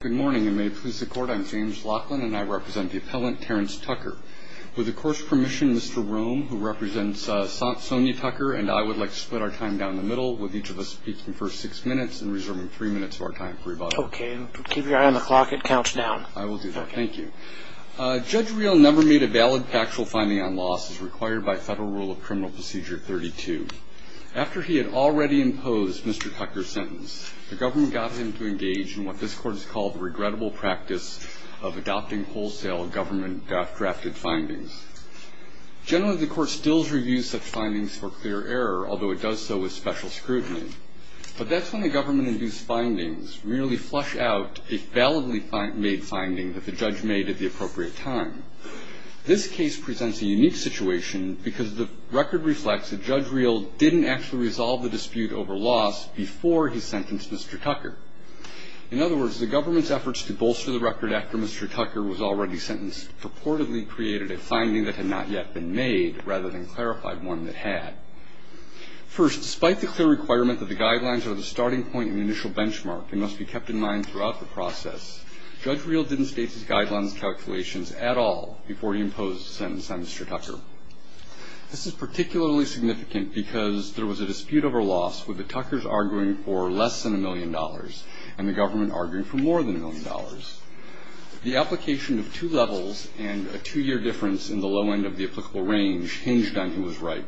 Good morning, and may it please the Court, I'm James Laughlin, and I represent the appellant Terrance Tucker. With the Court's permission, Mr. Rome, who represents Sonia Tucker and I, would like to split our time down the middle, with each of us speaking for six minutes and reserving three minutes of our time for rebuttal. Okay, and keep your eye on the clock. It counts down. I will do that. Thank you. Judge Real never made a valid factual finding on losses required by federal rule of criminal procedure 32. After he had already imposed Mr. Tucker's sentence, the government got him to engage in what this Court has called the regrettable practice of adopting wholesale government-drafted findings. Generally, the Court stills reviews such findings for clear error, although it does so with special scrutiny. But that's when the government-induced findings really flush out a validly made finding that the judge made at the appropriate time. This case presents a unique situation, because the record reflects that Judge Real didn't actually resolve the dispute over loss before he sentenced Mr. Tucker. In other words, the government's efforts to bolster the record after Mr. Tucker was already sentenced purportedly created a finding that had not yet been made, rather than clarified one that had. First, despite the clear requirement that the guidelines are the starting point in the initial benchmark Judge Real didn't state his guidelines and calculations at all before he imposed a sentence on Mr. Tucker. This is particularly significant because there was a dispute over loss with the Tuckers arguing for less than a million dollars and the government arguing for more than a million dollars. The application of two levels and a two-year difference in the low end of the applicable range hinged on who was right.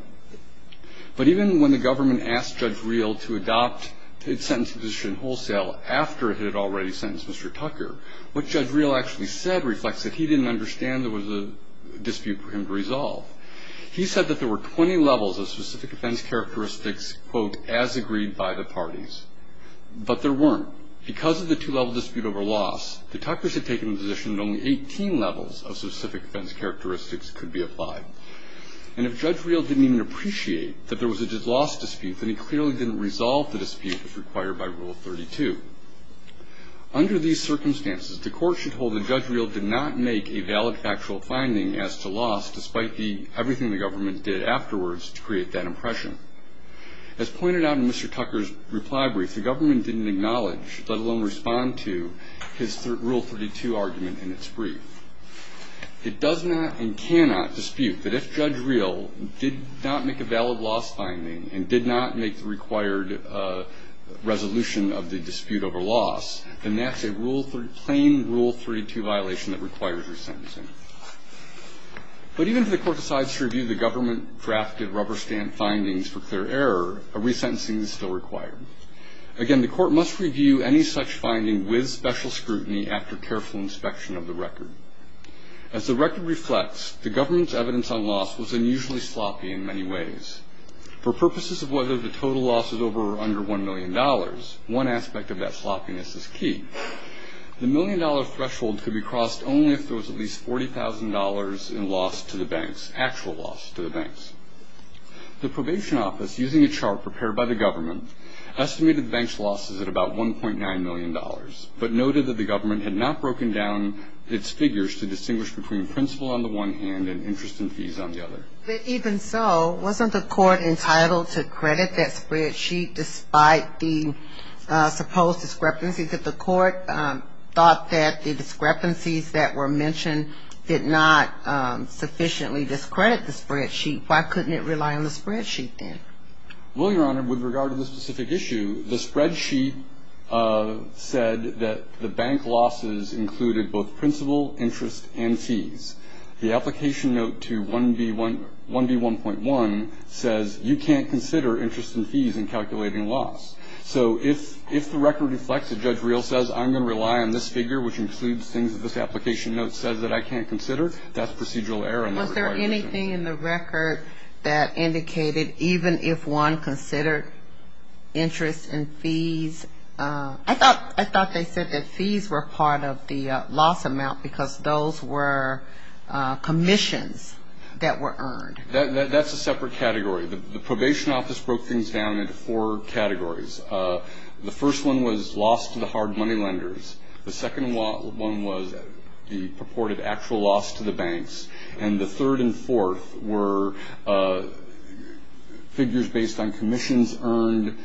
But even when the government asked Judge Real to adopt its sentencing position wholesale after it had already sentenced Mr. Tucker, what Judge Real actually said reflects that he didn't understand there was a dispute for him to resolve. He said that there were 20 levels of specific offense characteristics, quote, as agreed by the parties. But there weren't. Because of the two-level dispute over loss, the Tuckers had taken the position that only 18 levels of specific offense characteristics could be applied. And if Judge Real didn't even appreciate that there was a loss dispute, then he clearly didn't resolve the dispute as required by Rule 32. Under these circumstances, the court should hold that Judge Real did not make a valid factual finding as to loss despite everything the government did afterwards to create that impression. As pointed out in Mr. Tucker's reply brief, the government didn't acknowledge, let alone respond to, his Rule 32 argument in its brief. It does not and cannot dispute that if Judge Real did not make a valid loss finding and did not make the required resolution of the dispute over loss, then that's a plain Rule 32 violation that requires resentencing. But even if the court decides to review the government-drafted rubber-stand findings for clear error, a resentencing is still required. Again, the court must review any such finding with special scrutiny after careful inspection of the record. As the record reflects, the government's evidence on loss was unusually sloppy in many ways. For purposes of whether the total loss was over or under $1 million, one aspect of that sloppiness is key. The million-dollar threshold could be crossed only if there was at least $40,000 in loss to the banks, actual loss to the banks. The probation office, using a chart prepared by the government, estimated the bank's losses at about $1.9 million, but noted that the government had not broken down its figures to distinguish between principal on the one hand and interest and fees on the other. But even so, wasn't the court entitled to credit that spreadsheet despite the supposed discrepancies that the court thought that the discrepancies that were mentioned did not sufficiently discredit the spreadsheet? Why couldn't it rely on the spreadsheet then? Well, Your Honor, with regard to the specific issue, the spreadsheet said that the bank losses included both principal, interest, and fees. The application note to 1B1.1 says you can't consider interest and fees in calculating loss. So if the record reflects that Judge Reel says I'm going to rely on this figure, which includes things that this application note says that I can't consider, that's procedural error in the requirements. Was there anything in the record that indicated even if one considered interest and fees? I thought they said that fees were part of the loss amount because those were commissions that were earned. That's a separate category. The probation office broke things down into four categories. The first one was loss to the hard money lenders. The second one was the purported actual loss to the banks. And the third and fourth were figures based on commissions earned,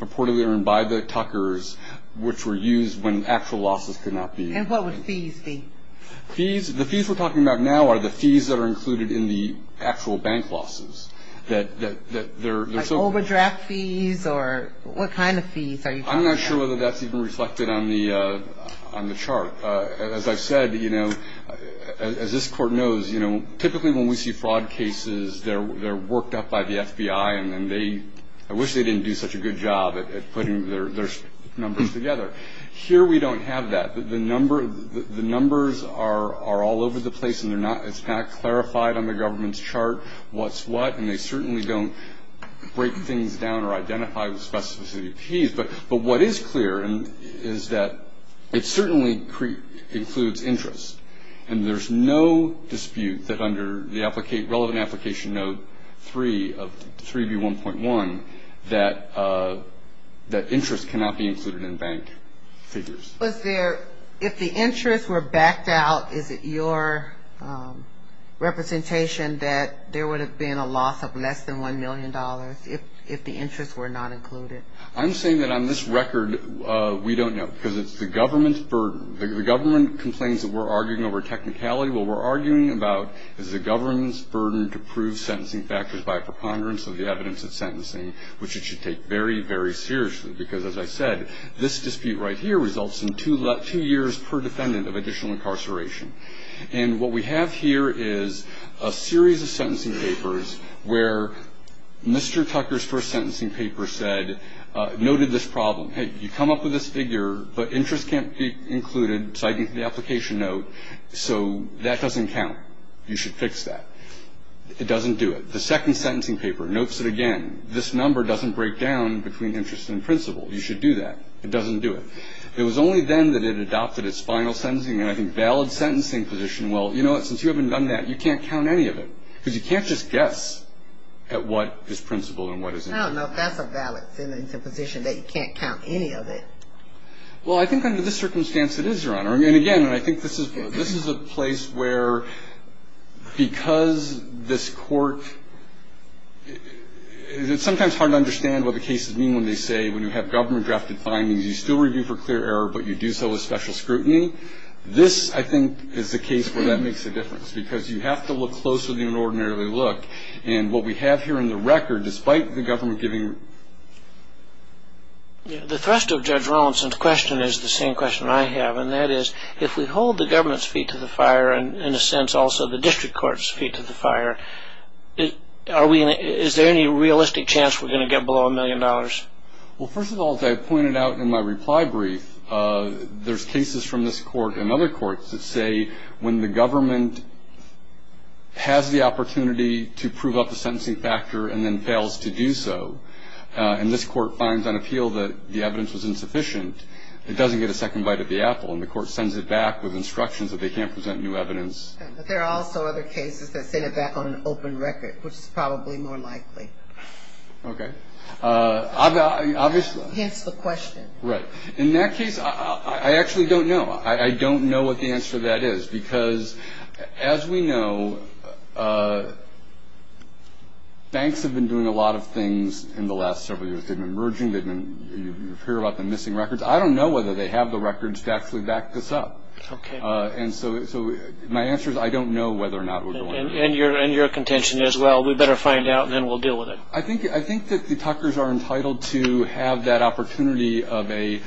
purportedly earned by the tuckers, which were used when actual losses could not be. And what would fees be? Fees? The fees we're talking about now are the fees that are included in the actual bank losses. Like overdraft fees or what kind of fees are you talking about? I'm not sure whether that's even reflected on the chart. As I've said, you know, as this Court knows, you know, typically when we see fraud cases, they're worked up by the FBI, and then they ‑‑ I wish they didn't do such a good job at putting their numbers together. Here we don't have that. The numbers are all over the place, and it's not clarified on the government's chart what's what, and they certainly don't break things down or identify the specificity of fees. But what is clear is that it certainly includes interest, and there's no dispute that under the relevant application note 3 of 3B1.1 that interest cannot be included in bank figures. If the interest were backed out, is it your representation that there would have been a loss of less than $1 million if the interest were not included? I'm saying that on this record we don't know because it's the government's burden. The government complains that we're arguing over technicality. What we're arguing about is the government's burden to prove sentencing factors by preponderance of the evidence of sentencing, which it should take very, very seriously because, as I said, this dispute right here results in two years per defendant of additional incarceration. And what we have here is a series of sentencing papers where Mr. Tucker's first sentencing paper noted this problem. Hey, you come up with this figure, but interest can't be included citing the application note, so that doesn't count. You should fix that. It doesn't do it. The second sentencing paper notes it again. This number doesn't break down between interest and principle. You should do that. It doesn't do it. It was only then that it adopted its final sentencing, and I think valid sentencing position, well, you know what? Since you haven't done that, you can't count any of it because you can't just guess at what is principle and what isn't. No, no, that's a valid sentencing position that you can't count any of it. Well, I think under this circumstance it is, Your Honor. And, again, I think this is a place where because this court – it's sometimes hard to understand what the cases mean when they say when you have government-drafted findings you still review for clear error, but you do so with special scrutiny. This, I think, is the case where that makes a difference because you have to look closer than you would ordinarily look, and what we have here in the record, despite the government giving – The thrust of Judge Rawlinson's question is the same question I have, and that is if we hold the government's feet to the fire and, in a sense, also the district court's feet to the fire, is there any realistic chance we're going to get below a million dollars? Well, first of all, as I pointed out in my reply brief, there's cases from this court and other courts that say when the government has the opportunity to prove up a sentencing factor and then fails to do so, and this court finds on appeal that the evidence was insufficient, it doesn't get a second bite of the apple, and the court sends it back with instructions that they can't present new evidence. But there are also other cases that send it back on an open record, which is probably more likely. Okay. Obviously – Hence the question. Right. In that case, I actually don't know. I don't know what the answer to that is because, as we know, banks have been doing a lot of things in the last several years. They've been merging, you hear about them missing records. I don't know whether they have the records to actually back this up. Okay. And your contention is, well, we'd better find out and then we'll deal with it. I think that the talkers are entitled to have that opportunity of a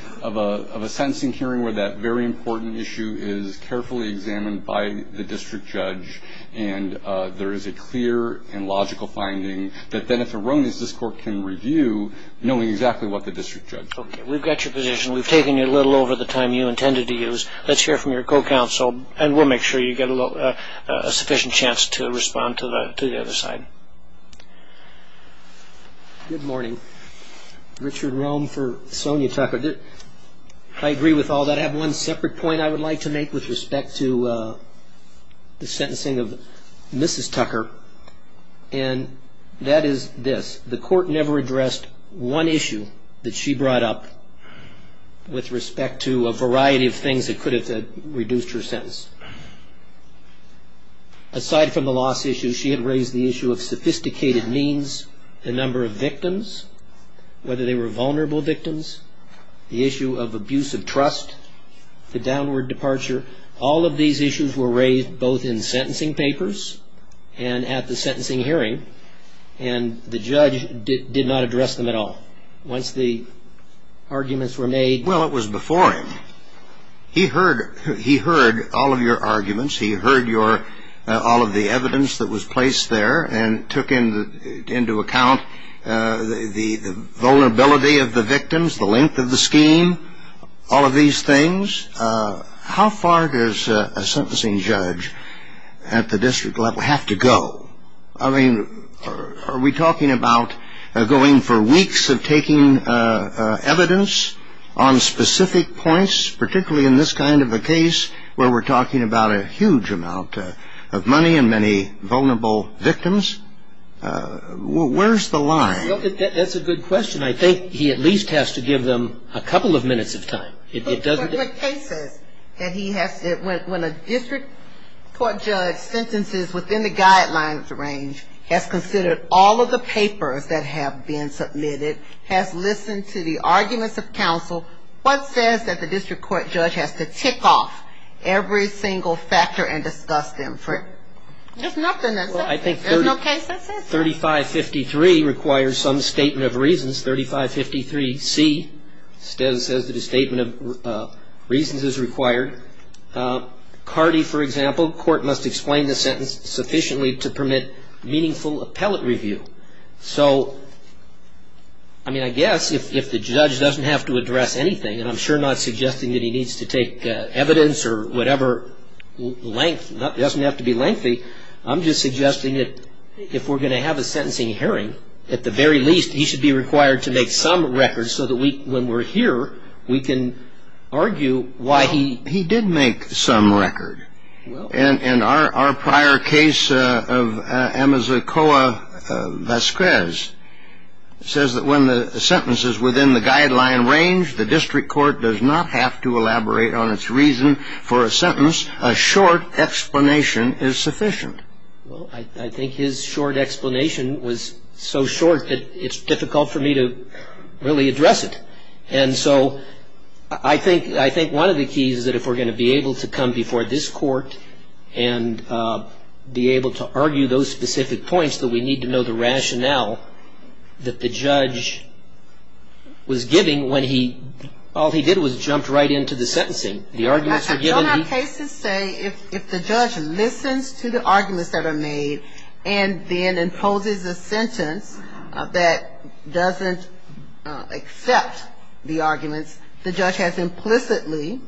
sentencing hearing where that very important issue is carefully examined by the district judge and there is a clear and logical finding that then if the wrong is, this court can review knowing exactly what the district judge said. Okay. We've got your position. We've taken you a little over the time you intended to use. Let's hear from your co-counsel, and we'll make sure you get a sufficient chance to respond to the other side. Good morning. Richard Rome for Sonia Tucker. I agree with all that. I have one separate point I would like to make with respect to the sentencing of Mrs. Tucker, and that is this. The court never addressed one issue that she brought up with respect to a variety of things that could have reduced her sentence. Aside from the loss issue, she had raised the issue of sophisticated means, the number of victims, whether they were vulnerable victims, the issue of abuse of trust, the downward departure. All of these issues were raised both in sentencing papers and at the sentencing hearing, and the judge did not address them at all. Once the arguments were made? Well, it was before him. He heard all of your arguments. He heard all of the evidence that was placed there and took into account the vulnerability of the victims, the length of the scheme, all of these things. How far does a sentencing judge at the district level have to go? I mean, are we talking about going for weeks of taking evidence on specific points, particularly in this kind of a case where we're talking about a huge amount of money and many vulnerable victims? Where's the line? That's a good question. I think he at least has to give them a couple of minutes of time. When a district court judge sentences within the guidelines range, has considered all of the papers that have been submitted, has listened to the arguments of counsel, what says that the district court judge has to tick off every single factor and discuss them? There's nothing that says that. There's no case that says that. 3553 requires some statement of reasons. 3553C says that a statement of reasons is required. CARDI, for example, court must explain the sentence sufficiently to permit meaningful appellate review. So, I mean, I guess if the judge doesn't have to address anything, and I'm sure not suggesting that he needs to take evidence or whatever length, doesn't have to be lengthy, I'm just suggesting that if we're going to have a sentencing hearing, at the very least, he should be required to make some record so that when we're here, we can argue why he... He did make some record. And our prior case of Amazakoa Vasquez says that when the sentence is within the guideline range, the district court does not have to elaborate on its reason for a sentence. A short explanation is sufficient. Well, I think his short explanation was so short that it's difficult for me to really address it. And so I think one of the keys is that if we're going to be able to come before this court and be able to argue those specific points, that we need to know the rationale that the judge was giving when he... All he did was jump right into the sentencing. The arguments were given... I don't have cases say if the judge listens to the arguments that are made and then imposes a sentence that doesn't accept the arguments, the judge has implicitly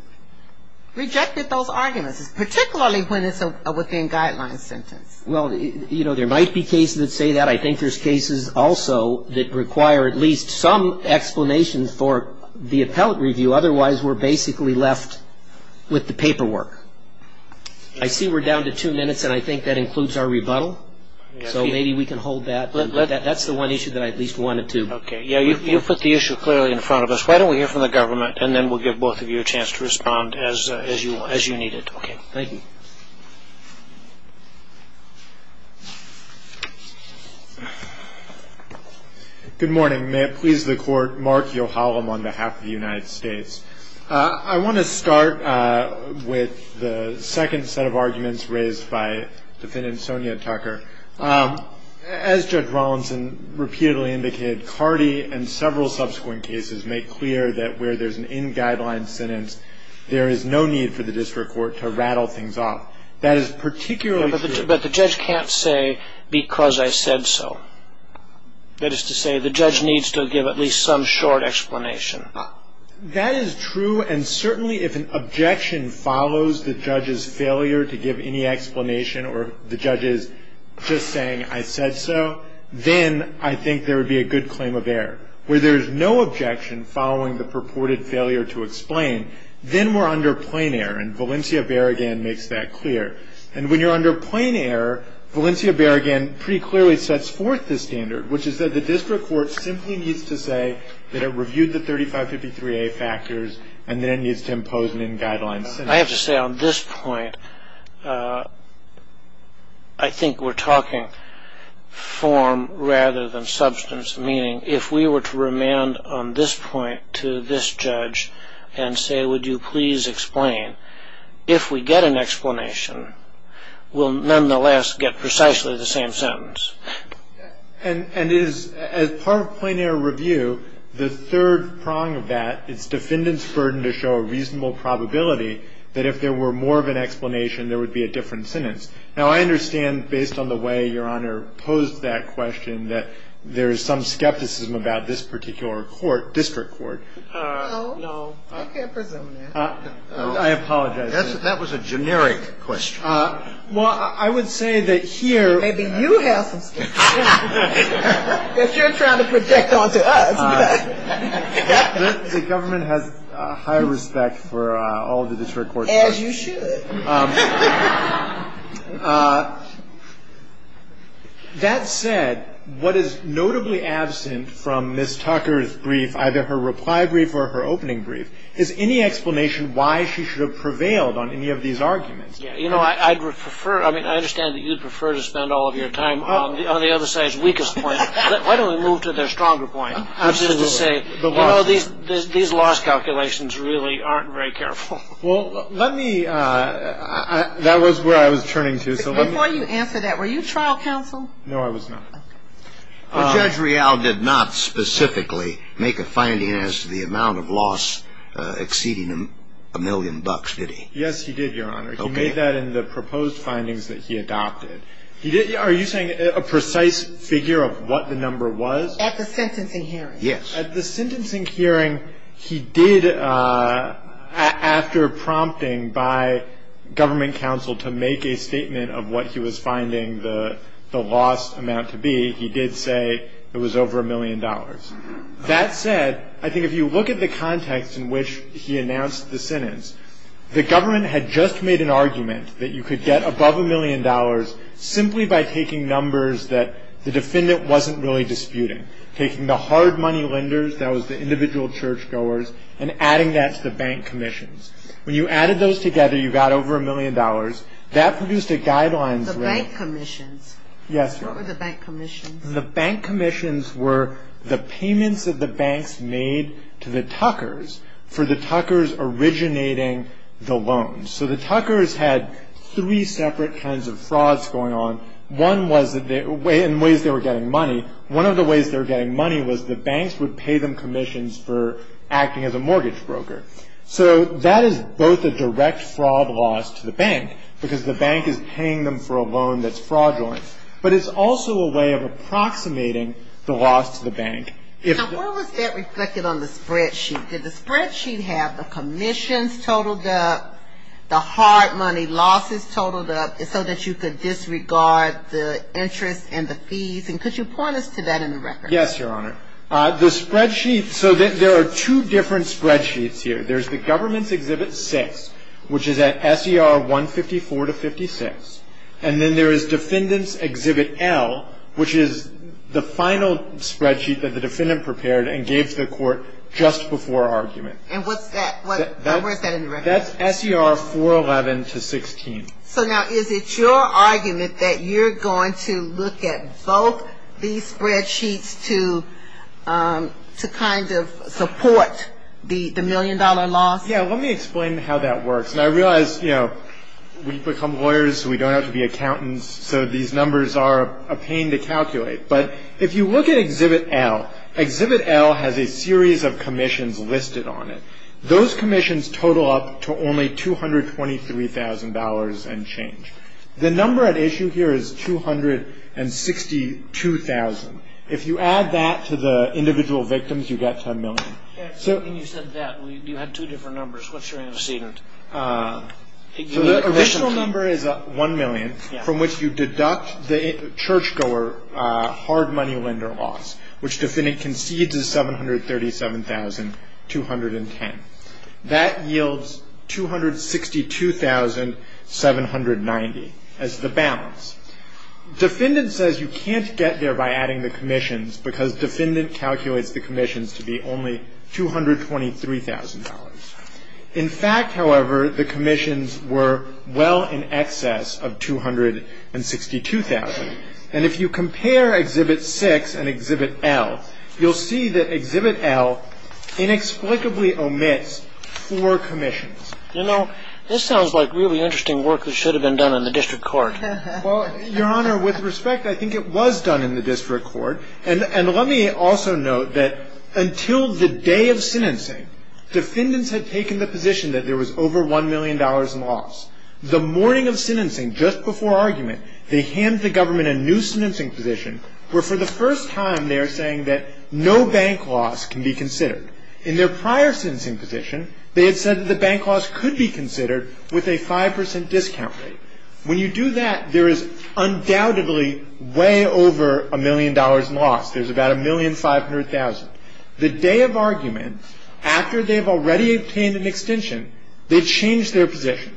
rejected those arguments, particularly when it's a within-guideline sentence. Well, you know, there might be cases that say that. I think there's cases also that require at least some explanation for the appellate review. Otherwise, we're basically left with the paperwork. I see we're down to two minutes, and I think that includes our rebuttal. So maybe we can hold that. That's the one issue that I at least wanted to... Okay. Yeah, you put the issue clearly in front of us. Why don't we hear from the government, and then we'll give both of you a chance to respond as you need it. Okay, thank you. Good morning. May it please the Court, Mark Yohalem on behalf of the United States. I want to start with the second set of arguments raised by Defendant Sonia Tucker. As Judge Rawlinson repeatedly indicated, Cardi and several subsequent cases make clear that where there's an in-guideline sentence, there is no need for the district court to rattle things off. That is particularly true... But the judge can't say, because I said so. That is to say, the judge needs to give at least some short explanation. That is true, and certainly if an objection follows the judge's failure to give any explanation or the judge's just saying, I said so, then I think there would be a good claim of error. Where there is no objection following the purported failure to explain, then we're under plain error, and Valencia-Berrigan makes that clear. And when you're under plain error, Valencia-Berrigan pretty clearly sets forth the standard, which is that the district court simply needs to say that it reviewed the 3553A factors and then needs to impose an in-guideline sentence. I have to say on this point, I think we're talking form rather than substance, meaning if we were to remand on this point to this judge and say, would you please explain, if we get an explanation, we'll nonetheless get precisely the same sentence. And as part of plain error review, the third prong of that is defendants' burden to show a reasonable probability that if there were more of an explanation, there would be a different sentence. Now, I understand, based on the way Your Honor posed that question, that there is some skepticism about this particular court, district court. No. No. I can't presume that. I apologize. That was a generic question. Well, I would say that here. Maybe you have some skepticism. If you're trying to project onto us. The government has high respect for all the district court judges. As you should. That said, what is notably absent from Ms. Tucker's brief, either her reply brief or her opening brief, is any explanation why she should have prevailed on any of these arguments. You know, I'd prefer, I mean, I understand that you'd prefer to spend all of your time on the other side's weakest point. Why don't we move to their stronger point, which is to say, well, these loss calculations really aren't very careful. Well, let me, that was where I was turning to. Before you answer that, were you trial counsel? No, I was not. Okay. Judge Real did not specifically make a finding as to the amount of loss exceeding a million bucks, did he? Yes, he did, Your Honor. Okay. He made that in the proposed findings that he adopted. Are you saying a precise figure of what the number was? At the sentencing hearing. Yes. At the sentencing hearing, he did, after prompting by government counsel to make a statement of what he was finding the loss amount to be, he did say it was over a million dollars. That said, I think if you look at the context in which he announced the sentence, the government had just made an argument that you could get above a million dollars simply by taking numbers that the defendant wasn't really disputing, taking the hard money lenders, that was the individual churchgoers, and adding that to the bank commissions. When you added those together, you got over a million dollars. That produced a guideline. The bank commissions. Yes. What were the bank commissions? The bank commissions were the payments that the banks made to the Tuckers for the Tuckers originating the loans. So the Tuckers had three separate kinds of frauds going on. One was in ways they were getting money. One of the ways they were getting money was the banks would pay them commissions for acting as a mortgage broker. So that is both a direct fraud loss to the bank, because the bank is paying them for a loan that's fraudulent, but it's also a way of approximating the loss to the bank. Now, where was that reflected on the spreadsheet? Did the spreadsheet have the commissions totaled up, the hard money losses totaled up, so that you could disregard the interest and the fees? Could you point us to that in the record? Yes, Your Honor. The spreadsheet, so there are two different spreadsheets here. There's the Government's Exhibit 6, which is at SER 154 to 56, and then there is Defendant's Exhibit L, which is the final spreadsheet that the defendant prepared and gave to the court just before argument. And what's that? Where is that in the record? That's SER 411 to 16. So now, is it your argument that you're going to look at both these spreadsheets to kind of support the million-dollar loss? Yes, let me explain how that works. And I realize, you know, we've become lawyers, so we don't have to be accountants, so these numbers are a pain to calculate. But if you look at Exhibit L, Exhibit L has a series of commissions listed on it. Those commissions total up to only $223,000 and change. The number at issue here is $262,000. If you add that to the individual victims, you get $10 million. When you said that, you had two different numbers. What's your antecedent? The additional number is $1 million, from which you deduct the churchgoer hard money lender loss, which defendant concedes is $737,210. That yields $262,790 as the balance. Defendant says you can't get there by adding the commissions because defendant calculates the commissions to be only $223,000. In fact, however, the commissions were well in excess of $262,000. And if you compare Exhibit 6 and Exhibit L, you'll see that Exhibit L inexplicably omits four commissions. You know, this sounds like really interesting work that should have been done in the district court. Well, Your Honor, with respect, I think it was done in the district court. And let me also note that until the day of sentencing, defendants had taken the position that there was over $1 million in loss. The morning of sentencing, just before argument, they hand the government a new sentencing position where for the first time they are saying that no bank loss can be considered. In their prior sentencing position, they had said that the bank loss could be considered with a 5% discount rate. When you do that, there is undoubtedly way over $1 million in loss. There's about $1,500,000. The day of argument, after they've already obtained an extension, they change their position.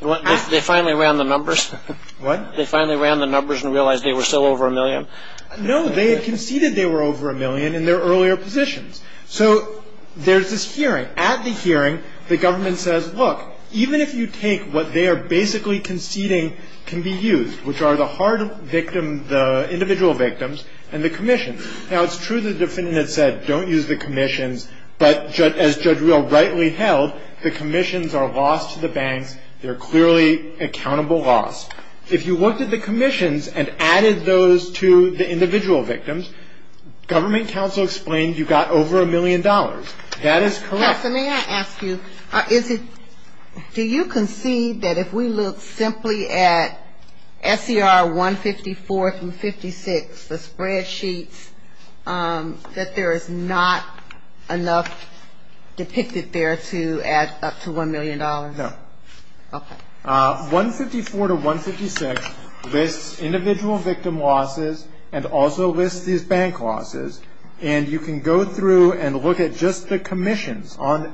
They finally ran the numbers. What? They finally ran the numbers and realized they were still over $1 million. No. They had conceded they were over $1 million in their earlier positions. So there's this hearing. At the hearing, the government says, look, even if you take what they are basically conceding can be used, which are the hard victim, the individual victims, and the commissions. Now, it's true the defendant had said don't use the commissions. But as Judge Real rightly held, the commissions are lost to the banks. They're clearly accountable loss. If you looked at the commissions and added those to the individual victims, government counsel explained you got over $1 million. That is correct. Yes, and may I ask you, do you concede that if we look simply at SCR 154 through 56, the spreadsheets, that there is not enough depicted there to add up to $1 million? No. Okay. 154 to 156 lists individual victim losses and also lists these bank losses. And you can go through and look at just the commissions. And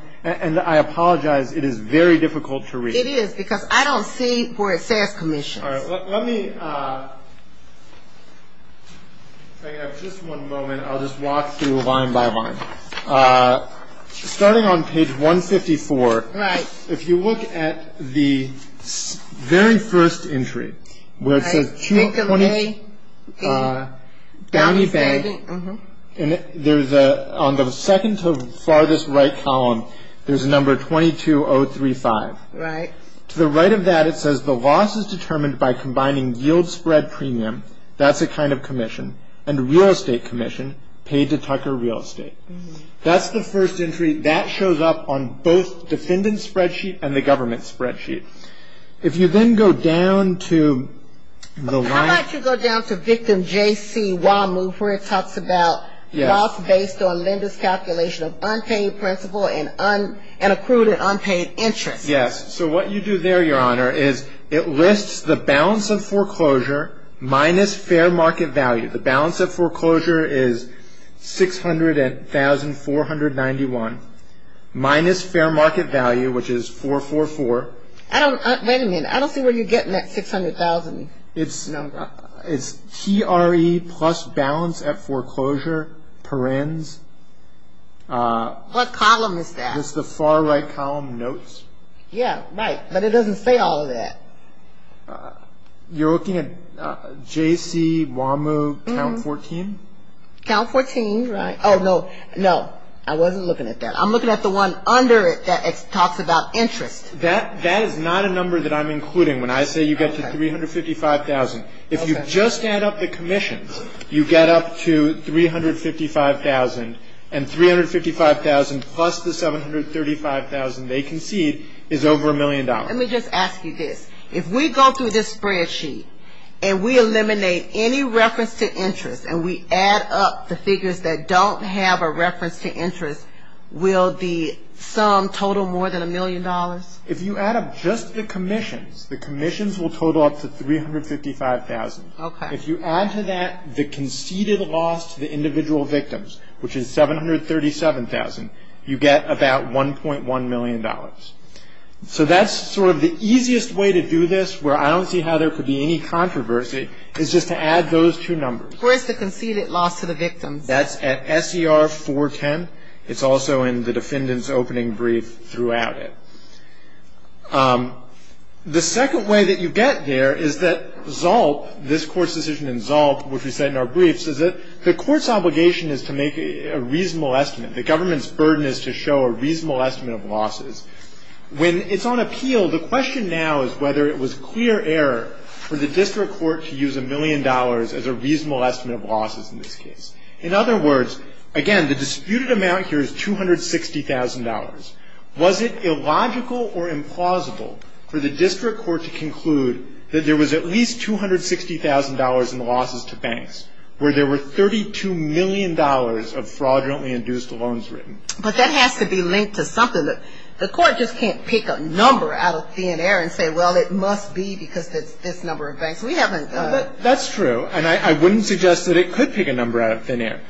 I apologize, it is very difficult to read. It is, because I don't see where it says commissions. All right. Let me, if I can have just one moment, I'll just walk through line by line. Starting on page 154. Right. If you look at the very first entry, where it says downy bank, on the second to farthest right column there's a number 22035. Right. To the right of that it says the loss is determined by combining yield spread premium, that's a kind of commission, and real estate commission, paid to Tucker Real Estate. That's the first entry. That shows up on both defendant's spreadsheet and the government's spreadsheet. If you then go down to the line. How about you go down to victim J.C. Wah move where it talks about loss based on lender's calculation of unpaid principal and accrued and unpaid interest. Yes. So what you do there, Your Honor, is it lists the balance of foreclosure minus fair market value. The balance of foreclosure is 600,491 minus fair market value, which is 444. I don't, wait a minute, I don't see where you're getting that 600,000 number. It's TRE plus balance at foreclosure, perens. What column is that? It's the far right column notes. Yeah, right, but it doesn't say all of that. You're looking at J.C. Wah move count 14? Count 14, right. Oh, no, no. I wasn't looking at that. I'm looking at the one under it that talks about interest. That is not a number that I'm including when I say you get to 355,000. If you just add up the commissions, you get up to 355,000. And 355,000 plus the 735,000 they concede is over a million dollars. Let me just ask you this. If we go through this spreadsheet and we eliminate any reference to interest and we add up the figures that don't have a reference to interest, will the sum total more than a million dollars? If you add up just the commissions, the commissions will total up to 355,000. Okay. If you add to that the conceded loss to the individual victims, which is 737,000, you get about $1.1 million. So that's sort of the easiest way to do this, where I don't see how there could be any controversy, is just to add those two numbers. Where is the conceded loss to the victims? That's at SER 410. It's also in the defendant's opening brief throughout it. The second way that you get there is that Zalt, this Court's decision in Zalt, which we said in our briefs, is that the Court's obligation is to make a reasonable estimate. The government's burden is to show a reasonable estimate of losses. When it's on appeal, the question now is whether it was clear error for the district court to use a million dollars as a reasonable estimate of losses in this case. In other words, again, the disputed amount here is $260,000. Was it illogical or implausible for the district court to conclude that there was at least $260,000 in losses to banks, where there were $32 million of fraudulently induced loans written? But that has to be linked to something. Look, the Court just can't pick a number out of thin air and say, well, it must be because it's this number of banks. We haven't done that. That's true, and I wouldn't suggest that it could pick a number out of thin air.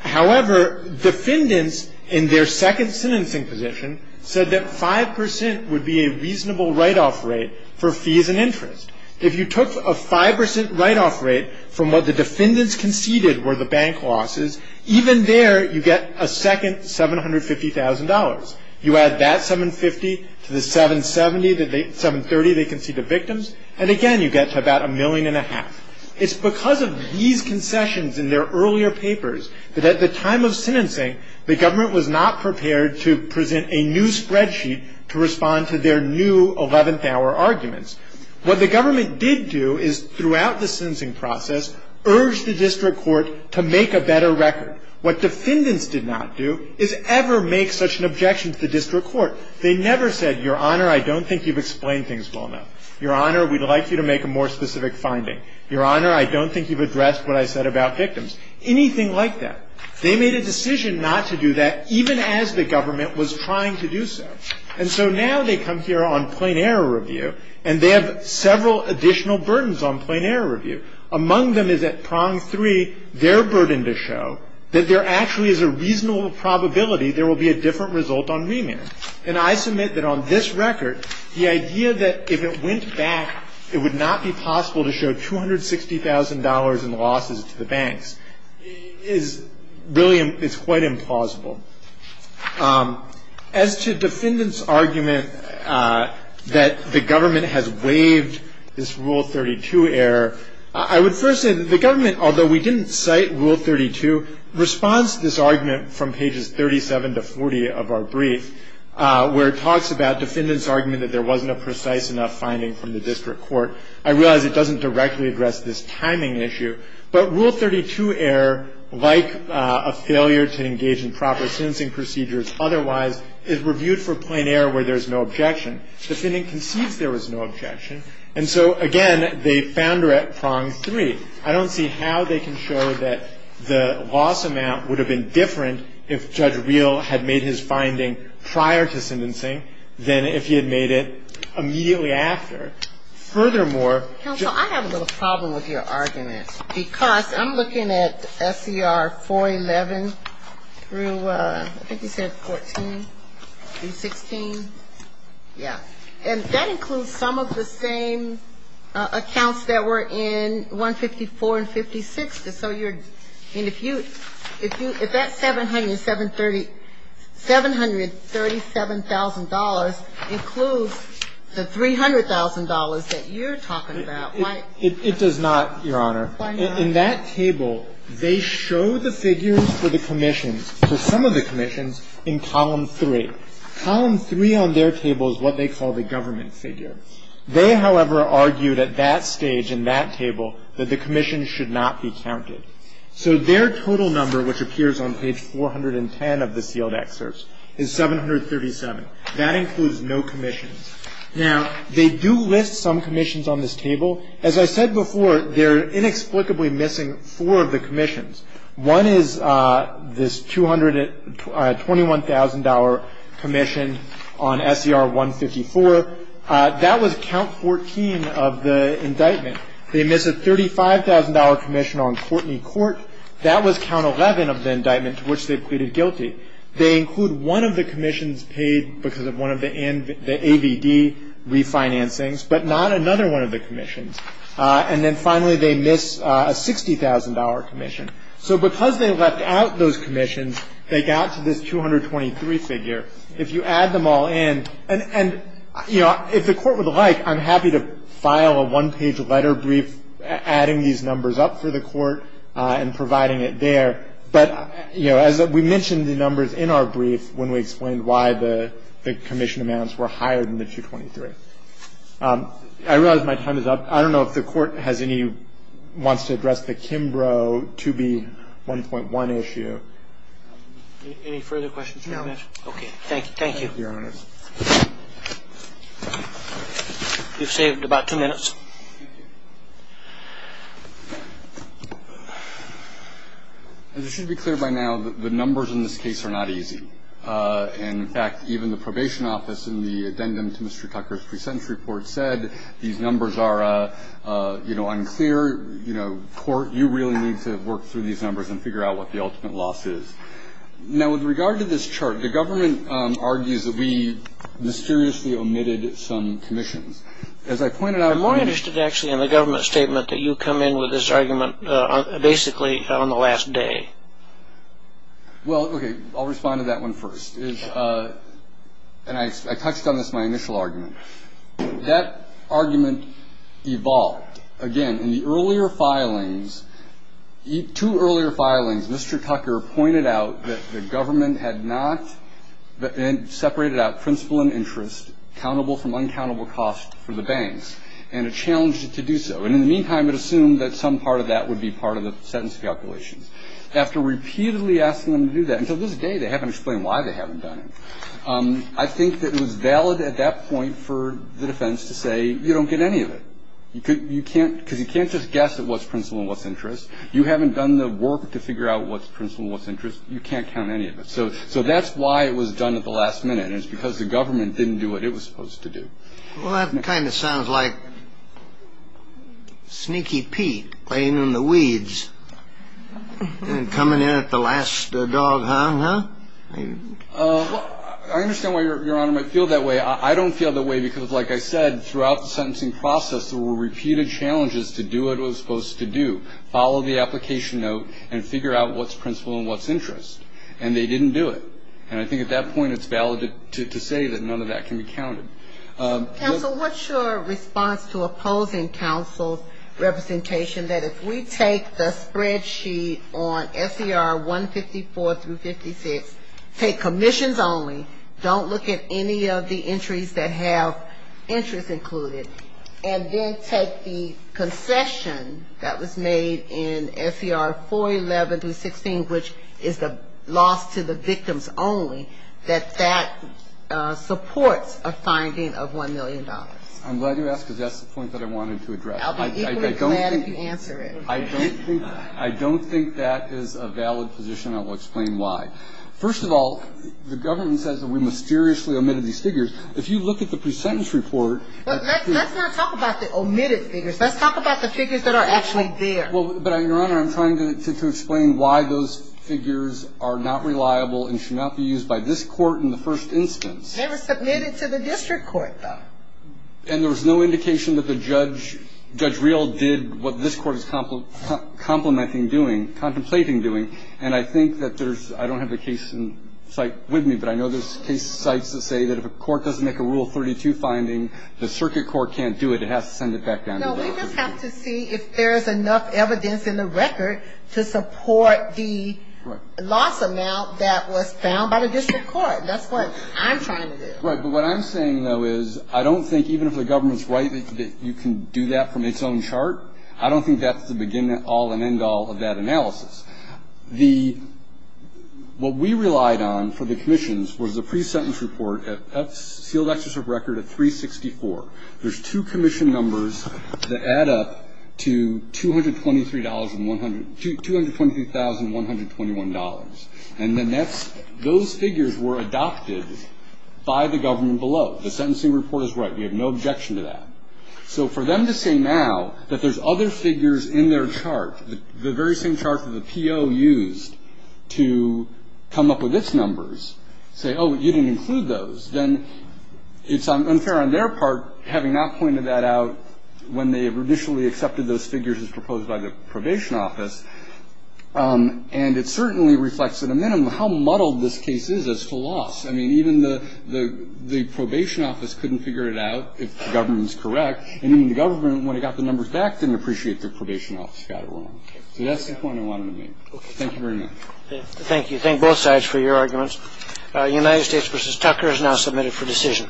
However, defendants in their second sentencing position said that 5% would be a reasonable write-off rate for fees and interest. If you took a 5% write-off rate from what the defendants conceded were the bank losses, even there you get a second $750,000. You add that $750,000 to the $730,000 they conceded to victims, and again you get to about a million and a half. It's because of these concessions in their earlier papers that at the time of sentencing the government was not prepared to present a new spreadsheet to respond to their new 11th-hour arguments. What the government did do is, throughout the sentencing process, urge the district court to make a better record. What defendants did not do is ever make such an objection to the district court. They never said, Your Honor, I don't think you've explained things well enough. Your Honor, we'd like you to make a more specific finding. Your Honor, I don't think you've addressed what I said about victims. Anything like that. They made a decision not to do that even as the government was trying to do so. And so now they come here on plain error review, and they have several additional burdens on plain error review. Among them is at prong three, their burden to show that there actually is a reasonable probability there will be a different result on remand. And I submit that on this record, the idea that if it went back, it would not be possible to show $260,000 in losses to the banks is really quite implausible. As to defendants' argument that the government has waived this Rule 32 error, I would first say that the government, although we didn't cite Rule 32, responds to this argument from pages 37 to 40 of our brief, where it talks about defendants' argument that there wasn't a precise enough finding from the district court. I realize it doesn't directly address this timing issue, but Rule 32 error, like a failure to engage in proper sentencing procedures otherwise, is reviewed for plain error where there's no objection. The defendant concedes there was no objection. And so, again, they found her at prong three. I don't see how they can show that the loss amount would have been different if Judge Reel had made his finding prior to sentencing than if he had made it immediately after. Furthermore ---- Counsel, I have a little problem with your argument. Because I'm looking at S.E.R. 411 through, I think you said 14, through 16. Yeah. And that includes some of the same accounts that were in 154 and 56. So you're ---- I mean, if you ---- if that $737,000 includes the $300,000 that you're talking about, why ---- It does not, Your Honor. Why not? In that table, they show the figures for the commissions, for some of the commissions, in Column 3. Column 3 on their table is what they call the government figure. They, however, argued at that stage in that table that the commissions should not be counted. So their total number, which appears on page 410 of the sealed excerpt, is 737. That includes no commissions. Now, they do list some commissions on this table. As I said before, they're inexplicably missing four of the commissions. One is this $221,000 commission on S.E.R. 154. That was count 14 of the indictment. They miss a $35,000 commission on Courtney Court. That was count 11 of the indictment to which they pleaded guilty. They include one of the commissions paid because of one of the AVD refinancings, but not another one of the commissions. And then, finally, they miss a $60,000 commission. So because they left out those commissions, they got to this 223 figure. If you add them all in, and, you know, if the Court would like, I'm happy to file a one-page letter brief adding these numbers up for the Court and providing it there. But, you know, as we mentioned the numbers in our brief when we explained why the commission amounts were higher than the 223. I realize my time is up. I don't know if the Court has any ñ wants to address the Kimbrough 2B1.1 issue. Any further questions? No. Okay. Thank you. Thank you, Your Honor. You've saved about two minutes. Thank you. As it should be clear by now, the numbers in this case are not easy. In fact, even the probation office in the addendum to Mr. Tucker's pre-sentence report said these numbers are, you know, unclear. You really need to work through these numbers and figure out what the ultimate loss is. Now, with regard to this chart, the government argues that we mysteriously omitted some commissions. As I pointed out ñ I'm more interested, actually, in the government statement that you come in with this argument basically on the last day. Well, okay, I'll respond to that one first. I touched on this in my initial argument. That argument evolved. In fact, again, in the earlier filings, two earlier filings, Mr. Tucker pointed out that the government had not separated out principal and interest, countable from uncountable cost for the banks, and it challenged it to do so. And in the meantime, it assumed that some part of that would be part of the sentence calculations. After repeatedly asking them to do that, until this day they haven't explained why they haven't done it, I think that it was valid at that point for the defense to say, you don't get any of it. You can't ñ because you can't just guess at what's principal and what's interest. You haven't done the work to figure out what's principal and what's interest. You can't count any of it. So that's why it was done at the last minute, and it's because the government didn't do what it was supposed to do. Well, that kind of sounds like sneaky Pete playing in the weeds and coming in at the last dog-hound, huh? I understand why Your Honor might feel that way. I don't feel that way because, like I said, throughout the sentencing process, there were repeated challenges to do what it was supposed to do, follow the application note, and figure out what's principal and what's interest. And they didn't do it. And I think at that point it's valid to say that none of that can be counted. Counsel, what's your response to opposing counsel's representation that if we take the spreadsheet on S.C.R. 154 through 56, take commissions only, don't look at any of the entries that have interest included, and then take the concession that was made in S.C.R. 411 through 16, which is the loss to the victims only, that that supports a finding of $1 million? I'm glad you asked because that's the point that I wanted to address. I'll be equally glad if you answer it. I don't think that is a valid position. I will explain why. First of all, the government says that we mysteriously omitted these figures. If you look at the pre-sentence report. But let's not talk about the omitted figures. Let's talk about the figures that are actually there. But, Your Honor, I'm trying to explain why those figures are not reliable and should not be used by this Court in the first instance. They were submitted to the district court, though. And there was no indication that the judge, Judge Reel, did what this Court is complimenting doing, contemplating doing. And I think that there's – I don't have the case in sight with me, but I know there's case sites that say that if a court doesn't make a Rule 32 finding, the circuit court can't do it. It has to send it back down to the district court. No, we just have to see if there is enough evidence in the record to support the loss amount that was found by the district court. That's what I'm trying to do. Right. But what I'm saying, though, is I don't think even if the government's right that you can do that from its own chart, I don't think that's the beginning, all, and end all of that analysis. The – what we relied on for the commissions was the pre-sentence report. That's sealed executive record at 364. There's two commission numbers that add up to $223,100 – $223,121. And then that's – those figures were adopted by the government below. The sentencing report is right. We have no objection to that. So for them to say now that there's other figures in their chart, the very same chart that the PO used to come up with its numbers, say, oh, you didn't include those, then it's unfair on their part, having not pointed that out when they initially accepted those figures as proposed by the probation office. And it certainly reflects, at a minimum, how muddled this case is as to loss. I mean, even the probation office couldn't figure it out if the government was correct. And even the government, when it got the numbers back, didn't appreciate the probation office got it wrong. So that's the point I wanted to make. Thank you very much. Thank you. Thank both sides for your arguments. United States v. Tucker is now submitted for decision.